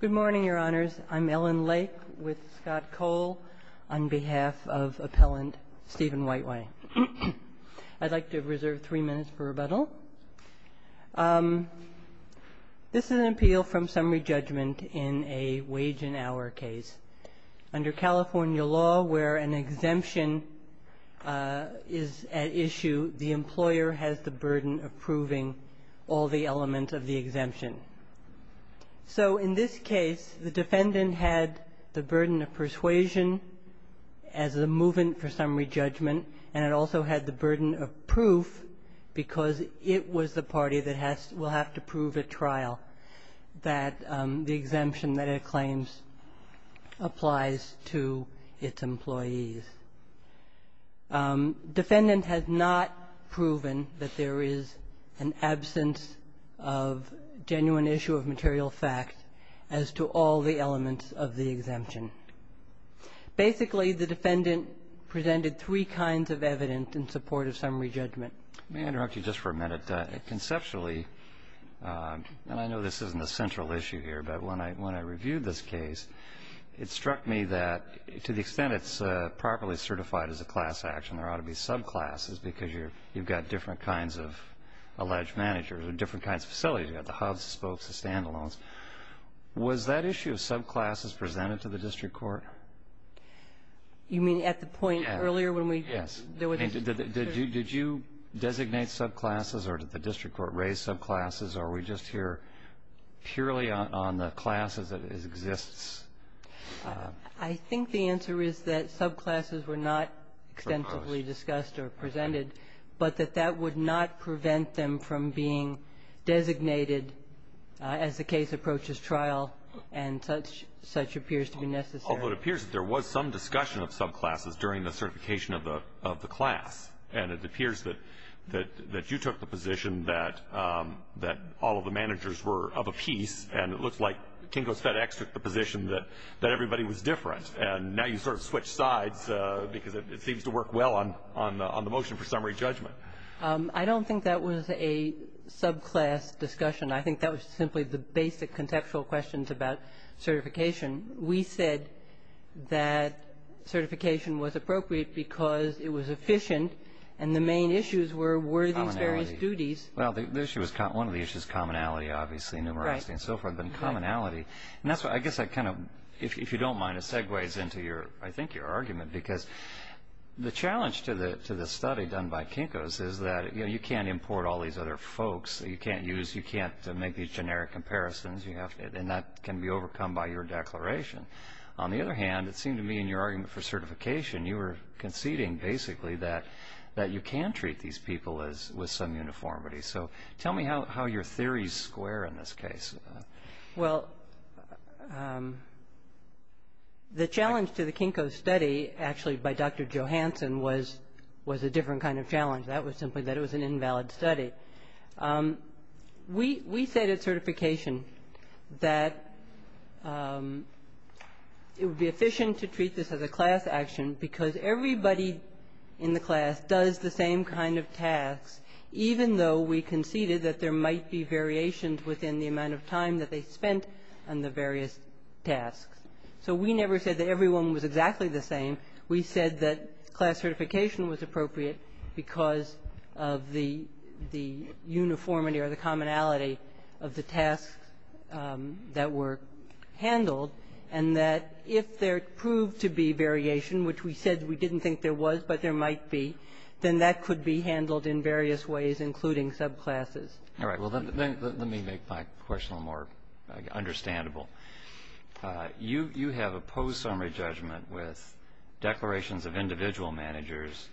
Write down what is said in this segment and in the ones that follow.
Good morning, Your Honors. I'm Ellen Lake with Scott Cole on behalf of Appellant Stephen Whiteway. I'd like to reserve three minutes for rebuttal. This is an appeal from summary judgment in a wage and hour case. Under California law, where an exemption is at issue, the employer has the burden of the exemption. So in this case, the defendant had the burden of persuasion as a movement for summary judgment, and it also had the burden of proof because it was the party that will have to prove at trial that the exemption that it claims applies to its employees. Defendant has not proven that there is an absence of genuine issue of material fact as to all the elements of the exemption. Basically, the defendant presented three kinds of evidence in support of summary judgment. May I interrupt you just for a minute? Conceptually, and I know this isn't a central issue here, but when I reviewed this case, it struck me that to the extent it's properly certified as a class action, there ought to be subclasses because you've got different kinds of alleged managers or different kinds of facilities. You've got the hubs, the spokes, the stand-alones. Was that issue of subclasses presented to the district court? You mean at the point earlier when we? Yes. Did you designate subclasses or did the district court raise subclasses, or are we just here purely on the class as it exists? I think the answer is that subclasses were not extensively discussed or presented, but that that would not prevent them from being designated as the case approaches trial, and such appears to be necessary. Although it appears that there was some discussion of subclasses during the certification of the class, and it appears that you took the position that all of the managers were of a piece, and it looks like Kingo's FedEx took the position that everybody was different, and now you sort of switch sides because it seems to work well on the motion for summary judgment. I don't think that was a subclass discussion. I think that was simply the basic conceptual questions about certification. We said that certification was appropriate because it was efficient, and the main issues were were these various duties? Commonality. Well, the issue was one of the issues, commonality, obviously, numerosity and so forth, but commonality. And that's why I guess I kind of, if you don't mind, it segues into your, I think, your argument, because the challenge to the study done by Kinko's is that, you know, you can't import all these other folks. You can't use, you can't make these generic comparisons. And that can be overcome by your declaration. On the other hand, it seemed to me in your argument for certification, you were conceding basically that you can treat these people with some uniformity. So tell me how your theories square in this case. Well, the challenge to the Kinko study actually by Dr. Johanson was a different kind of challenge. That was simply that it was an invalid study. We said at certification that it would be efficient to treat this as a class action because everybody in the class does the same kind of tasks, even though we conceded that there might be variations within the amount of time that they spent on the various tasks. So we never said that everyone was exactly the same. We said that class certification was appropriate because of the uniformity or the commonality of the tasks that were handled, and that if there proved to be variation, which we said we didn't think there was but there might be, then that could be handled in various ways, including subclasses. All right. Well, then let me make my question a little more understandable. You have a post-summary judgment with declarations of individual managers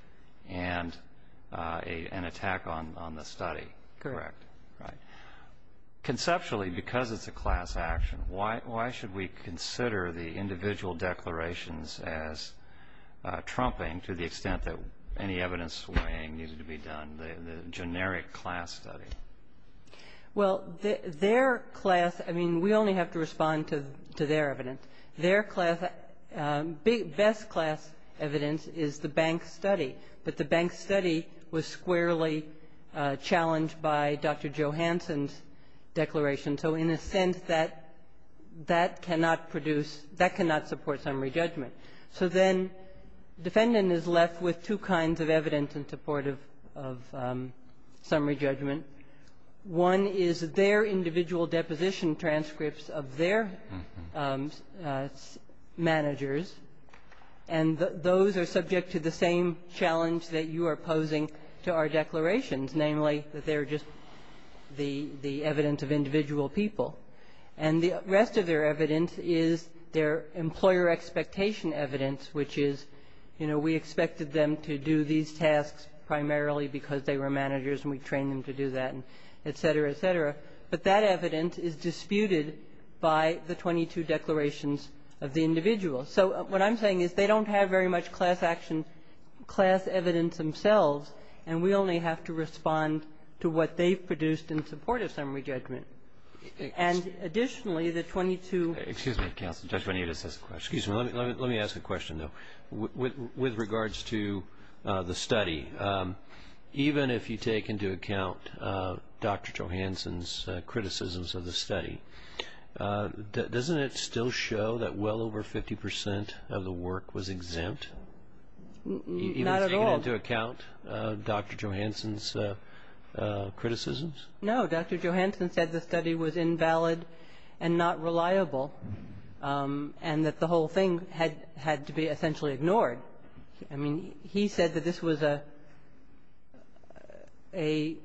and an attack on the study. Correct. Right. Conceptually, because it's a class action, why should we consider the individual declarations as trumping to the extent that any evidence weighing needed to be done, the generic class study? Well, their class – I mean, we only have to respond to their evidence. Their class – best class evidence is the bank study, but the bank study was squarely challenged by Dr. Johanson's declaration. So in a sense, that cannot produce – that cannot support summary judgment. So then defendant is left with two kinds of evidence in support of summary judgment. One is their individual deposition transcripts of their managers, and those are subject to the same challenge that you are posing to our declarations, namely that they're just the evidence of individual people. And the rest of their evidence is their employer expectation evidence, which is, you know, we expected them to do these tasks primarily because they were managers and we trained them to do that, et cetera, et cetera. But that evidence is disputed by the 22 declarations of the individual. So what I'm saying is they don't have very much class action, class evidence themselves, and we only have to respond to what they've produced in support of summary judgment. And additionally, the 22 – Excuse me, counsel. Judge Bonita says a question. Excuse me. Let me ask a question, though. With regards to the study, even if you take into account Dr. Johanson's criticisms of the study, doesn't it still show that well over 50 percent of the work was exempt? Not at all. Even if you take into account Dr. Johanson's criticisms? No. Dr. Johanson said the study was invalid and not reliable and that the whole thing had to be essentially ignored. I mean, he said that this was a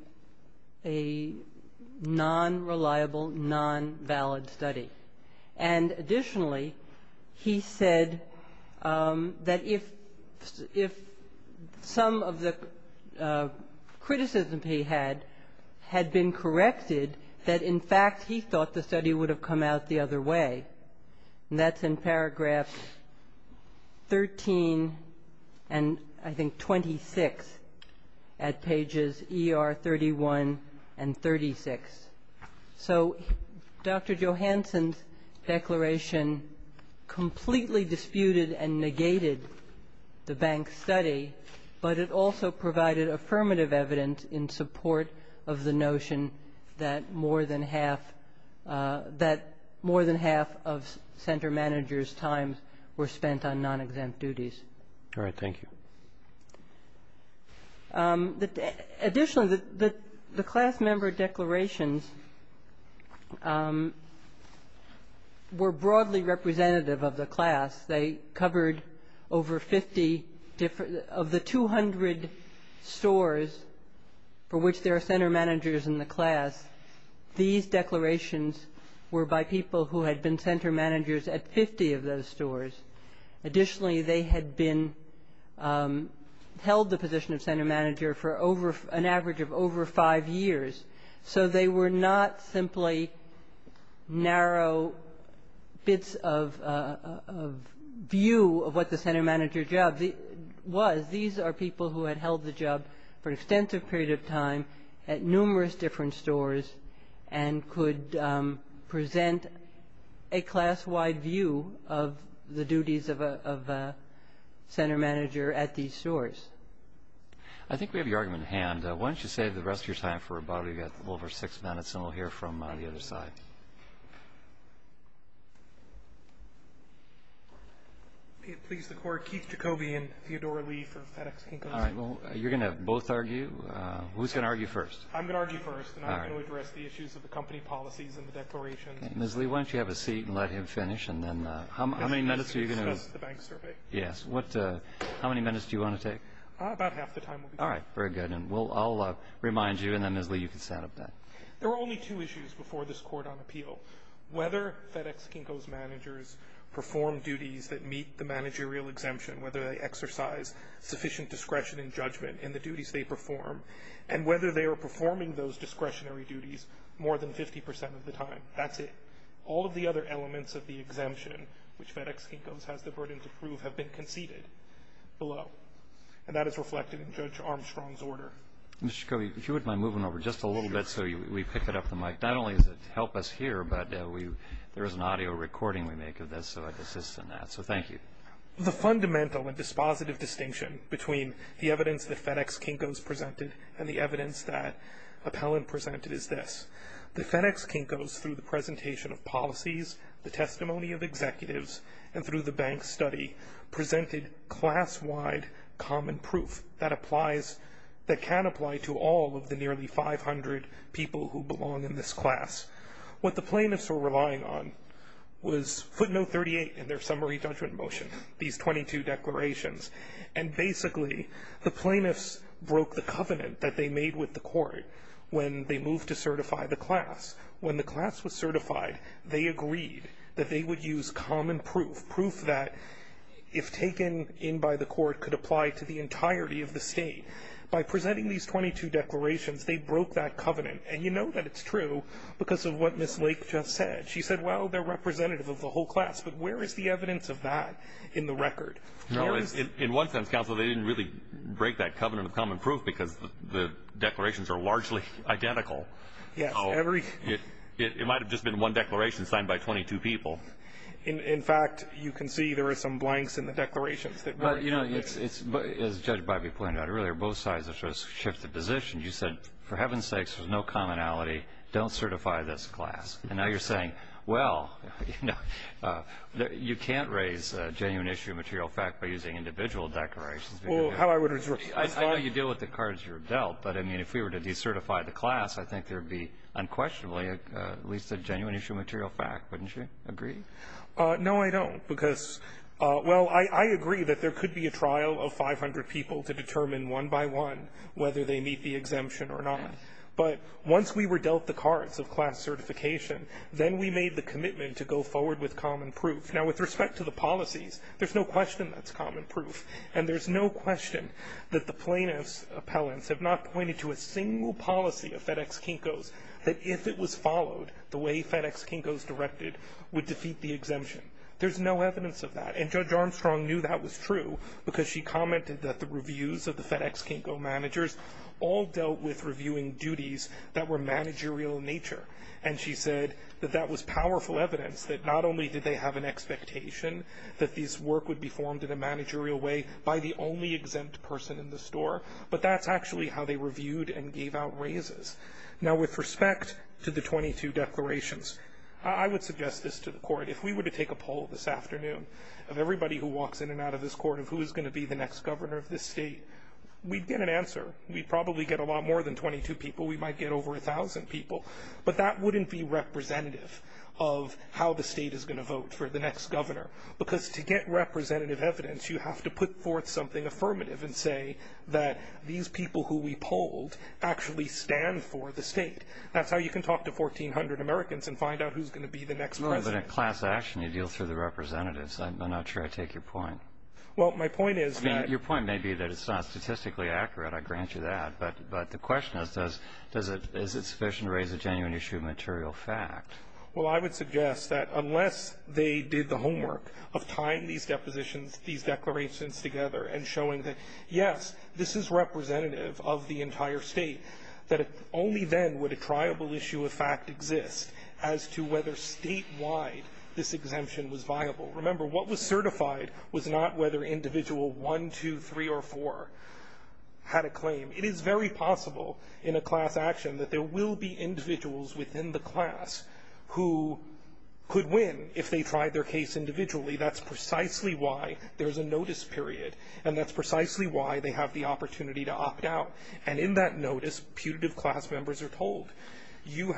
non-reliable, non-valid study. And additionally, he said that if some of the criticism he had had been corrected, that in fact he thought the study would have come out the other way. And that's in paragraphs 13 and I think 26 at pages ER 31 and 36. So Dr. Johanson's declaration completely disputed and negated the bank study, but it also provided affirmative evidence in support of the notion that more than half – that more than half of center managers' times were spent on non-exempt duties. All right. Thank you. Additionally, the class member declarations were broadly representative of the class. They covered over 50 – of the 200 stores for which there are center managers in the class, these declarations were by people who had been center managers at 50 of those stores. Additionally, they had been – held the position of center manager for an average of over five years. So they were not simply narrow bits of view of what the center manager job was. These are people who had held the job for an extensive period of time at numerous different stores and could present a class-wide view of the duties of a center manager at these stores. I think we have your argument at hand. Why don't you save the rest of your time for about – we've got a little over six minutes, and we'll hear from the other side. Please, the court. Keith Jacobi and Theodore Lee from FedEx Kinkel. All right. Well, you're going to both argue? Who's going to argue first? I'm going to argue first, and I'm going to address the issues of the company policies and the declarations. Ms. Lee, why don't you have a seat and let him finish, and then how many minutes are you going to – Can I discuss the bank survey? Yes. How many minutes do you want to take? About half the time will be fine. All right. Very good. And I'll remind you, and then, Ms. Lee, you can set up that. There were only two issues before this court on appeal. Whether FedEx Kinkel's managers perform duties that meet the managerial exemption, whether they exercise sufficient discretion and judgment in the duties they perform, and whether they are performing those discretionary duties more than 50 percent of the time. That's it. All of the other elements of the exemption, which FedEx Kinkel has the burden to prove, have been conceded below, and that is reflected in Judge Armstrong's order. Mr. Jacobi, if you wouldn't mind moving over just a little bit so we pick it up the mic. Not only does it help us hear, but there is an audio recording we make of this, so I'd assist in that. So thank you. The fundamental and dispositive distinction between the evidence that FedEx Kinkel's presented and the evidence that Appellant presented is this. The FedEx Kinkel's, through the presentation of policies, the testimony of executives, and through the bank study, presented class-wide common proof that applies, that can apply to all of the nearly 500 people who belong in this class. What the plaintiffs were relying on was footnote 38 in their summary judgment motion, these 22 declarations, and basically the plaintiffs broke the covenant that they made with the court when they moved to certify the class. When the class was certified, they agreed that they would use common proof, proof that if taken in by the court could apply to the entirety of the state. And you know that it's true because of what Ms. Lake just said. She said, well, they're representative of the whole class, but where is the evidence of that in the record? In one sense, counsel, they didn't really break that covenant of common proof because the declarations are largely identical. It might have just been one declaration signed by 22 people. In fact, you can see there are some blanks in the declarations. As Judge Bivey pointed out earlier, both sides have sort of shifted positions. You said, for heaven's sakes, there's no commonality. Don't certify this class. And now you're saying, well, you know, you can't raise a genuine issue of material fact by using individual declarations. I know you deal with the cards you're dealt, but, I mean, if we were to decertify the class, I think there would be unquestionably at least a genuine issue of material fact, wouldn't you agree? No, I don't, because, well, I agree that there could be a trial of 500 people to determine one by one whether they meet the exemption or not. But once we were dealt the cards of class certification, then we made the commitment to go forward with common proof. Now, with respect to the policies, there's no question that's common proof. And there's no question that the plaintiff's appellants have not pointed to a single policy of FedEx Kinko's that, if it was followed the way FedEx Kinko's directed, would defeat the exemption. There's no evidence of that. And Judge Armstrong knew that was true because she commented that the reviews of the FedEx Kinko managers all dealt with reviewing duties that were managerial in nature. And she said that that was powerful evidence that not only did they have an expectation that this work would be formed in a managerial way by the only exempt person in the store, but that's actually how they reviewed and gave out raises. Now, with respect to the 22 declarations, I would suggest this to the court. If we were to take a poll this afternoon of everybody who walks in and out of this court of who is going to be the next governor of this state, we'd get an answer. We'd probably get a lot more than 22 people. We might get over 1,000 people. But that wouldn't be representative of how the state is going to vote for the next governor because, to get representative evidence, you have to put forth something affirmative and say that these people who we polled actually stand for the state. That's how you can talk to 1,400 Americans and find out who's going to be the next governor. Well, that's part of the class action you deal through the representatives. I'm not sure I take your point. Well, my point is that your point may be that it's not statistically accurate. I grant you that. But the question is, does it raise a genuine issue of material fact? Well, I would suggest that unless they did the homework of tying these depositions, these declarations together and showing that, yes, this is representative of the entire state, that only then would a triable issue of fact exist as to whether statewide this exemption was viable. Remember, what was certified was not whether individual one, two, three, or four had a claim. It is very possible in a class action that there will be individuals within the class who could win if they tried their case individually. That's precisely why there's a notice period. And that's precisely why they have the opportunity to opt out. And in that notice, putative class members are told, you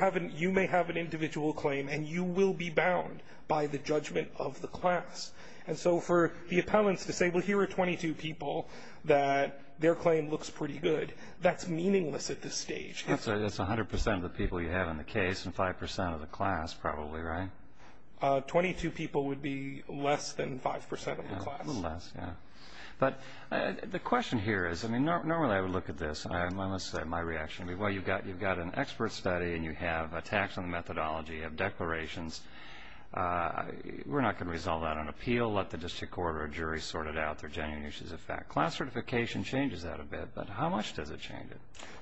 may have an individual claim and you will be bound by the judgment of the class. And so for the appellants to say, well, here are 22 people that their claim looks pretty good, that's meaningless at this stage. That's 100% of the people you have in the case and 5% of the class probably, right? Twenty-two people would be less than 5% of the class. A little less, yeah. But the question here is, I mean, normally I would look at this. Let's say my reaction would be, well, you've got an expert study and you have a tax on the methodology of declarations. We're not going to resolve that on appeal. Let the district court or jury sort it out. They're genuine issues of fact. Class certification changes that a bit, but how much does it change it?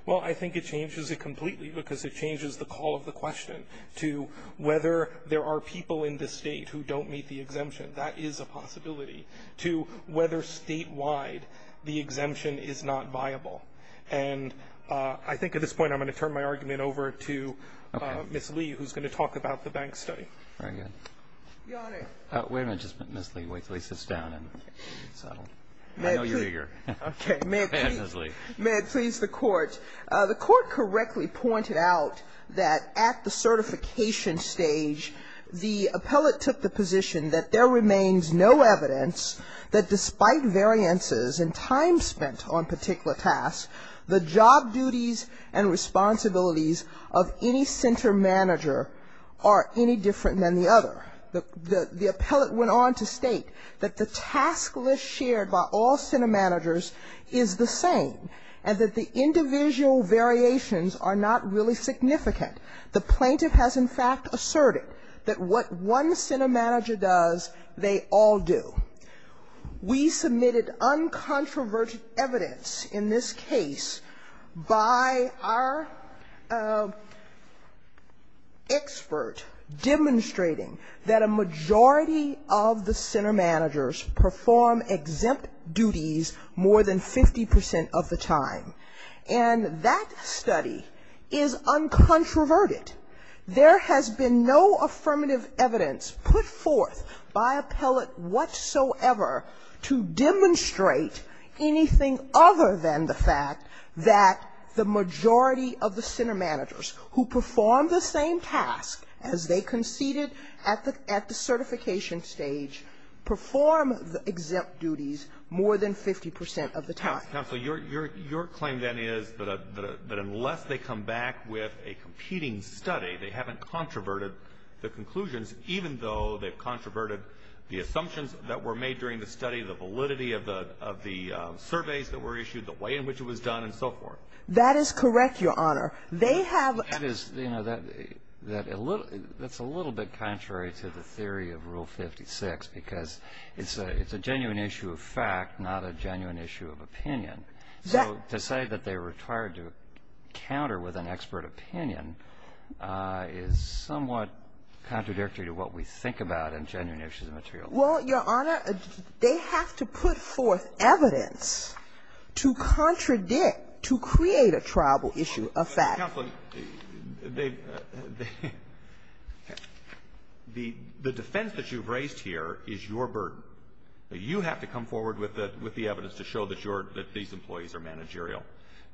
Well, I think it changes it completely because it changes the call of the question to whether there are people in this state who don't meet the exemption. That is a possibility. To whether statewide the exemption is not viable. And I think at this point I'm going to turn my argument over to Ms. Lee, who's going to talk about the bank study. Very good. Your Honor. Wait a minute, Ms. Lee. Wait until he sits down. I know you're eager. Okay. May it please the Court. The Court correctly pointed out that at the certification stage, the appellate took the position that there remains no evidence that despite variances in time spent on particular tasks, the job duties and responsibilities of any center manager are any different than the other. The appellate went on to state that the task list shared by all center managers is the same, and that the individual variations are not really significant. The plaintiff has in fact asserted that what one center manager does, they all do. We submitted uncontroverted evidence in this case by our expert demonstrating that a majority of the center managers perform exempt duties more than 50 percent of the time. And that study is uncontroverted. There has been no affirmative evidence put forth by appellate whatsoever to demonstrate anything other than the fact that the majority of the center managers who perform the same task as they conceded at the certification stage perform the exempt duties more than 50 percent of the time. Your claim, then, is that unless they come back with a competing study, they haven't controverted the conclusions, even though they've controverted the assumptions that were made during the study, the validity of the surveys that were issued, the way in which it was done, and so forth. That is correct, Your Honor. They have ---- That's a little bit contrary to the theory of Rule 56, because it's a genuine issue of fact, not a genuine issue of opinion. So to say that they're required to counter with an expert opinion is somewhat contradictory to what we think about in genuine issues of material law. Well, Your Honor, they have to put forth evidence to contradict, to create a tribal issue of fact. Counsel, they ---- the defense that you've raised here is your burden. You have to come forward with the evidence to show that your ---- that these employees are managerial.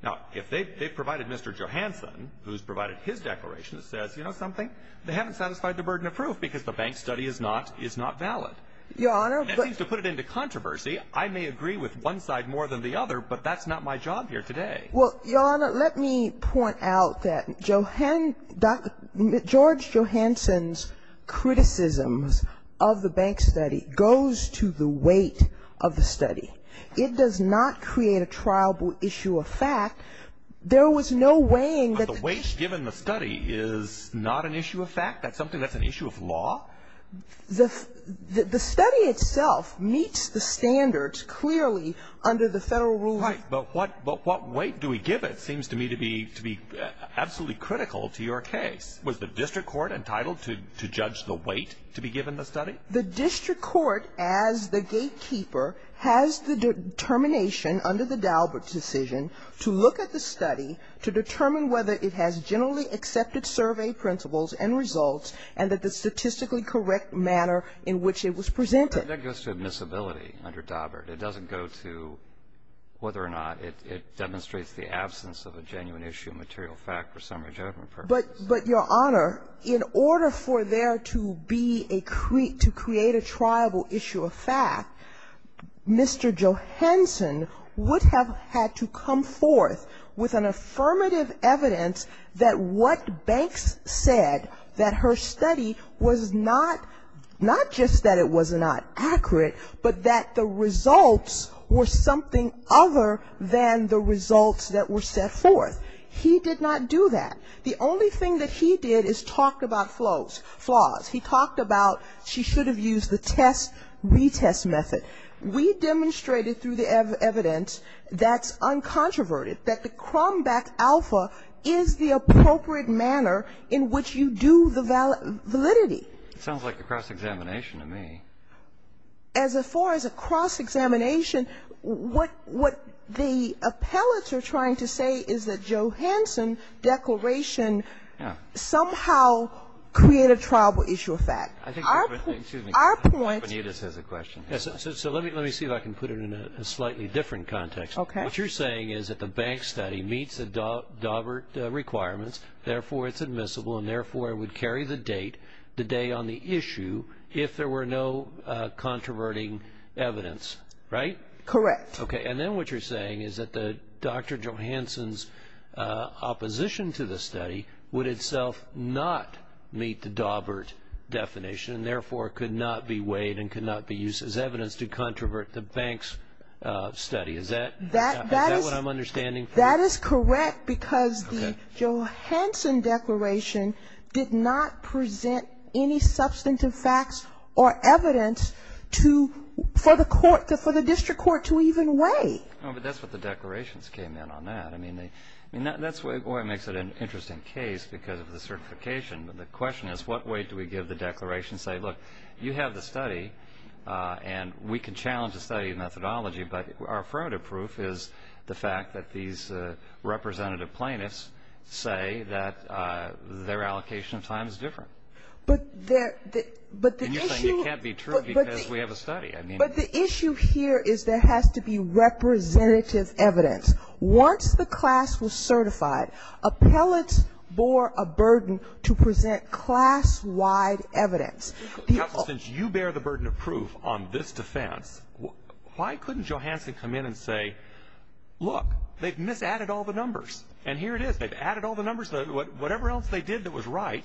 Now, if they've provided Mr. Johanson, who's provided his declaration, says, you know something, they haven't satisfied the burden of proof because the bank study is not valid. Your Honor, but ---- That seems to put it into controversy. I may agree with one side more than the other, but that's not my job here today. Well, Your Honor, let me point out that Johan ---- Dr. ---- George Johanson's criticisms of the bank study goes to the weight of the study. It does not create a tribal issue of fact. There was no weighing that the ---- But the weight given the study is not an issue of fact? That's something that's an issue of law? Right. But what weight do we give it seems to me to be absolutely critical to your case. Was the district court entitled to judge the weight to be given the study? The district court, as the gatekeeper, has the determination under the Daubert decision to look at the study to determine whether it has generally accepted survey principles and results and that the statistically correct manner in which it was presented. That goes to admissibility under Daubert. It doesn't go to whether or not it demonstrates the absence of a genuine issue of material fact for summary judgment purposes. But, Your Honor, in order for there to be a ---- to create a tribal issue of fact, Mr. Johanson would have had to come forth with an affirmative evidence that what he did in the study was not just that it was not accurate, but that the results were something other than the results that were set forth. He did not do that. The only thing that he did is talk about flaws. He talked about she should have used the test-retest method. We demonstrated through the evidence that's uncontroverted, that the Cromback Alpha is the appropriate manner in which you do the validity. It sounds like a cross-examination to me. As far as a cross-examination, what the appellates are trying to say is that Johanson declaration somehow created a tribal issue of fact. Our point ---- Our point ---- Our point ---- So let me see if I can put it in a slightly different context. Okay. What you're saying is that the Banks study meets the Dawbert requirements, therefore it's admissible, and therefore it would carry the date, the day on the issue, if there were no controverting evidence, right? Correct. Okay. And then what you're saying is that Dr. Johanson's opposition to the study would itself not meet the Dawbert definition, and therefore it could not be weighed and could not be used as evidence to controvert the Banks study. Is that what I'm understanding? That is correct because the Johanson declaration did not present any substantive facts or evidence for the district court to even weigh. No, but that's what the declarations came in on that. I mean, that's why it makes it an interesting case because of the certification. But the question is, what weight do we give the declaration, say, look, you have the study, and we can challenge the study methodology, but our affirmative proof is the fact that these representative plaintiffs say that their allocation of time is different. But the issue here is there has to be representative evidence. Once the class was certified, appellants bore a burden to present class-wide evidence. Counsel, since you bear the burden of proof on this defense, why couldn't Johanson come in and say, look, they've misadded all the numbers, and here it is. They've added all the numbers. Whatever else they did that was right,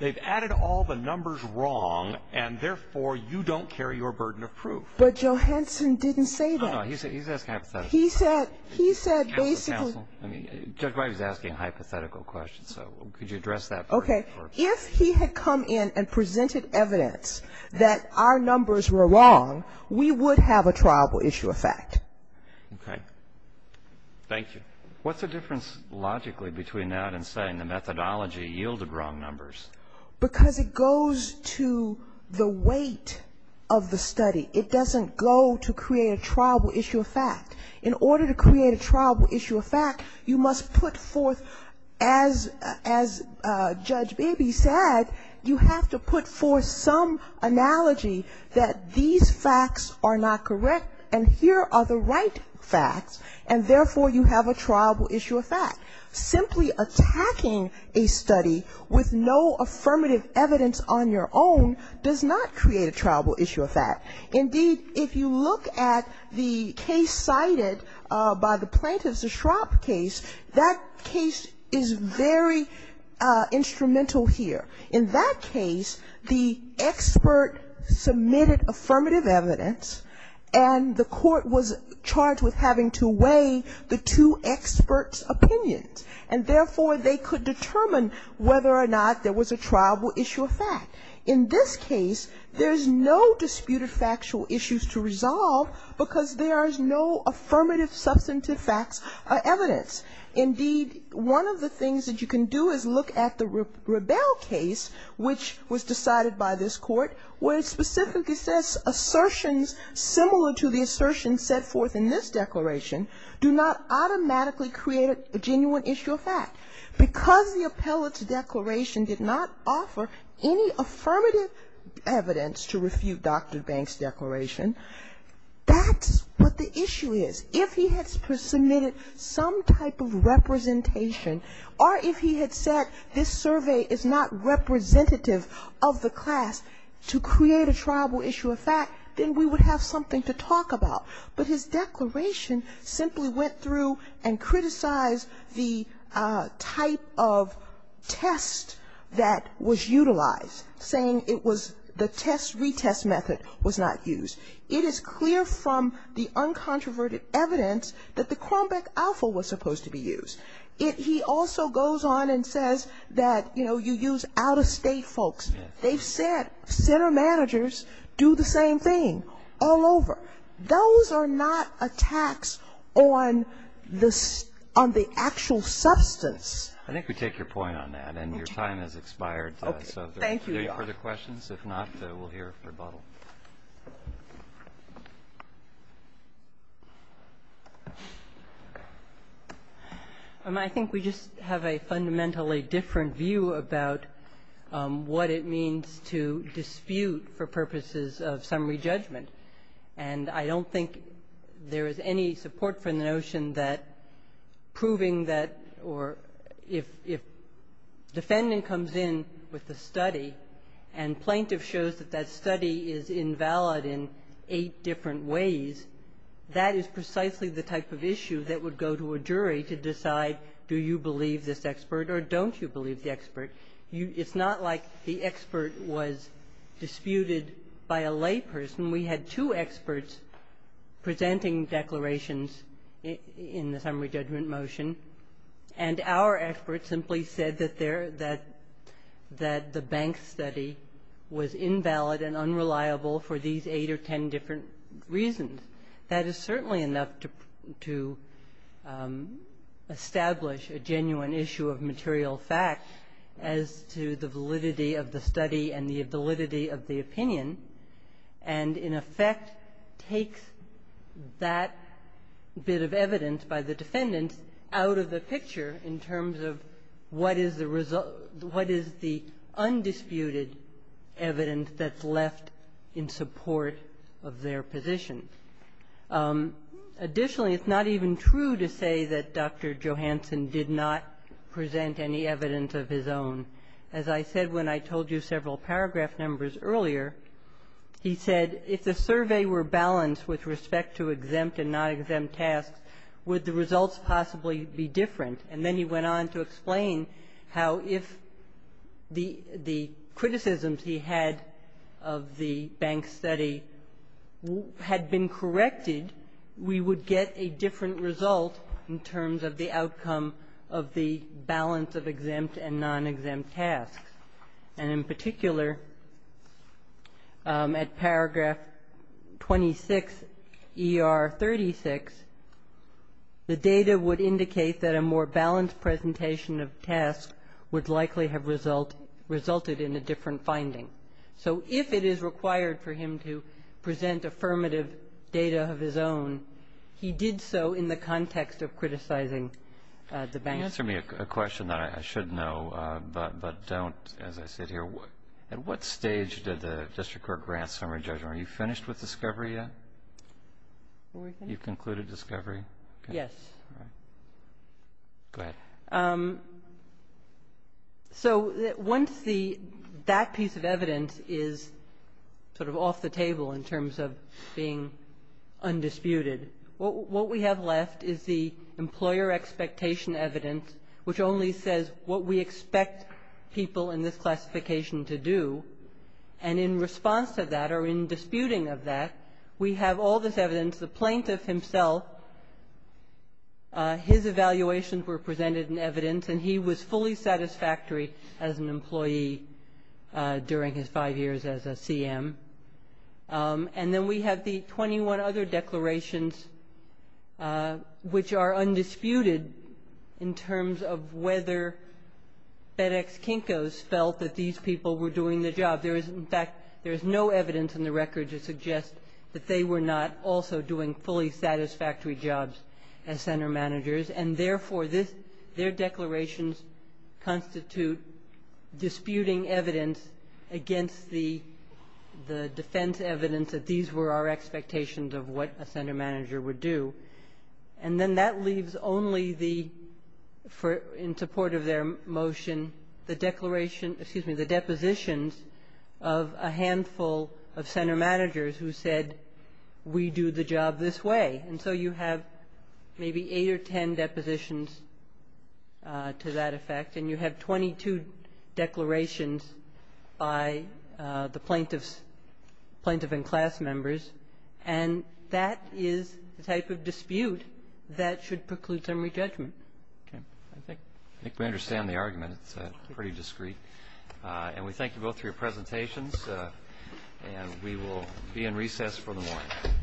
they've added all the numbers wrong, and, therefore, you don't carry your burden of proof. But Johanson didn't say that. No, no. He's asking hypothetical questions. He said basically ---- Counsel, counsel, Judge White is asking hypothetical questions, so could you address that burden of proof? Okay. If he had come in and presented evidence that our numbers were wrong, we would have a triable issue of fact. Okay. Thank you. What's the difference logically between that and saying the methodology yielded wrong numbers? Because it goes to the weight of the study. It doesn't go to create a triable issue of fact. In order to create a triable issue of fact, you must put forth, as Judge Beebe said, you have to put forth some analogy that these facts are not correct, and here are the right facts, and, therefore, you have a triable issue of fact. Simply attacking a study with no affirmative evidence on your own does not create a triable issue of fact. Indeed, if you look at the case cited by the plaintiffs, the Shropp case, that case is very instrumental here. In that case, the expert submitted affirmative evidence, and the court was charged with having to weigh the two experts' opinions, and, therefore, they could determine whether or not there was a triable issue of fact. In this case, there is no disputed factual issues to resolve because there is no affirmative substantive facts or evidence. Indeed, one of the things that you can do is look at the Rebell case, which was decided by this Court, where it specifically says assertions similar to the assertions set forth in this declaration do not automatically create a genuine issue of fact. Because the appellate's declaration did not offer any affirmative evidence to refute Dr. Banks' declaration, that's what the issue is. If he had submitted some type of representation, or if he had said this survey is not representative of the class to create a triable issue of fact, then we would have something to talk about. But his declaration simply went through and criticized the type of test that was utilized, saying it was the test-retest method was not used. It is clear from the uncontroverted evidence that the Crombeck alpha was supposed to be used. He also goes on and says that, you know, you use out-of-state folks. They've said center managers do the same thing all over. Those are not attacks on the actual substance. I think we take your point on that, and your time has expired. Thank you, Your Honor. Are there any further questions? If not, we'll hear rebuttal. I think we just have a fundamentally different view about what it means to dispute for purposes of summary judgment, and I don't think there is any support for the notion that proving that or if defendant comes in with a study and plaintiff shows that that is invalid in eight different ways, that is precisely the type of issue that would go to a jury to decide do you believe this expert or don't you believe the expert. It's not like the expert was disputed by a layperson. We had two experts presenting declarations in the summary judgment motion, and our expert simply said that the bank study was invalid and unreliable for these eight or ten different reasons. That is certainly enough to establish a genuine issue of material fact as to the validity of the study and the validity of the opinion, and in effect takes that bit of evidence by the defendants out of the picture in terms of what is the undisputed evidence that's left in support of their position. Additionally, it's not even true to say that Dr. Johanson did not present any evidence of his own. As I said when I told you several paragraph numbers earlier, he said if the survey were balanced with respect to exempt and non-exempt tasks, would the results possibly be different? And then he went on to explain how if the criticisms he had of the bank study had been corrected, we would get a different result in terms of the outcome of the balance of exempt and non-exempt tasks. And in particular, at paragraph 26ER36, the data would indicate that a more balanced presentation of tasks would likely have resulted in a different finding. So if it is required for him to present affirmative data of his own, he did so in the context of criticizing the bank. Can you answer me a question that I should know but don't as I sit here? At what stage did the district court grant summary judgment? Are you finished with discovery yet? You've concluded discovery? Yes. Go ahead. So once that piece of evidence is sort of off the table in terms of being undisputed, what we have left is the employer expectation evidence, which only says what we expect people in this classification to do. And in response to that or in disputing of that, we have all this evidence. The plaintiff himself, his evaluations were presented in evidence, and he was fully satisfactory as an employee during his five years as a CM. And then we have the 21 other declarations, which are undisputed in terms of whether FedEx Kinko's felt that these people were doing the job. In fact, there is no evidence in the record to suggest that they were not also doing fully satisfactory jobs as center managers, and, therefore, their declarations constitute disputing evidence against the defense evidence that these were our expectations of what a center manager would do. And then that leaves only, in support of their motion, the depositions of a handful of center managers who said, we do the job this way. And so you have maybe eight or ten depositions to that effect, and you have 22 depositions and 22 declarations by the plaintiffs, plaintiff and class members. And that is the type of dispute that should preclude summary judgment. Okay. I think we understand the argument. It's pretty discreet. And we thank you both for your presentations, and we will be in recess for the morning.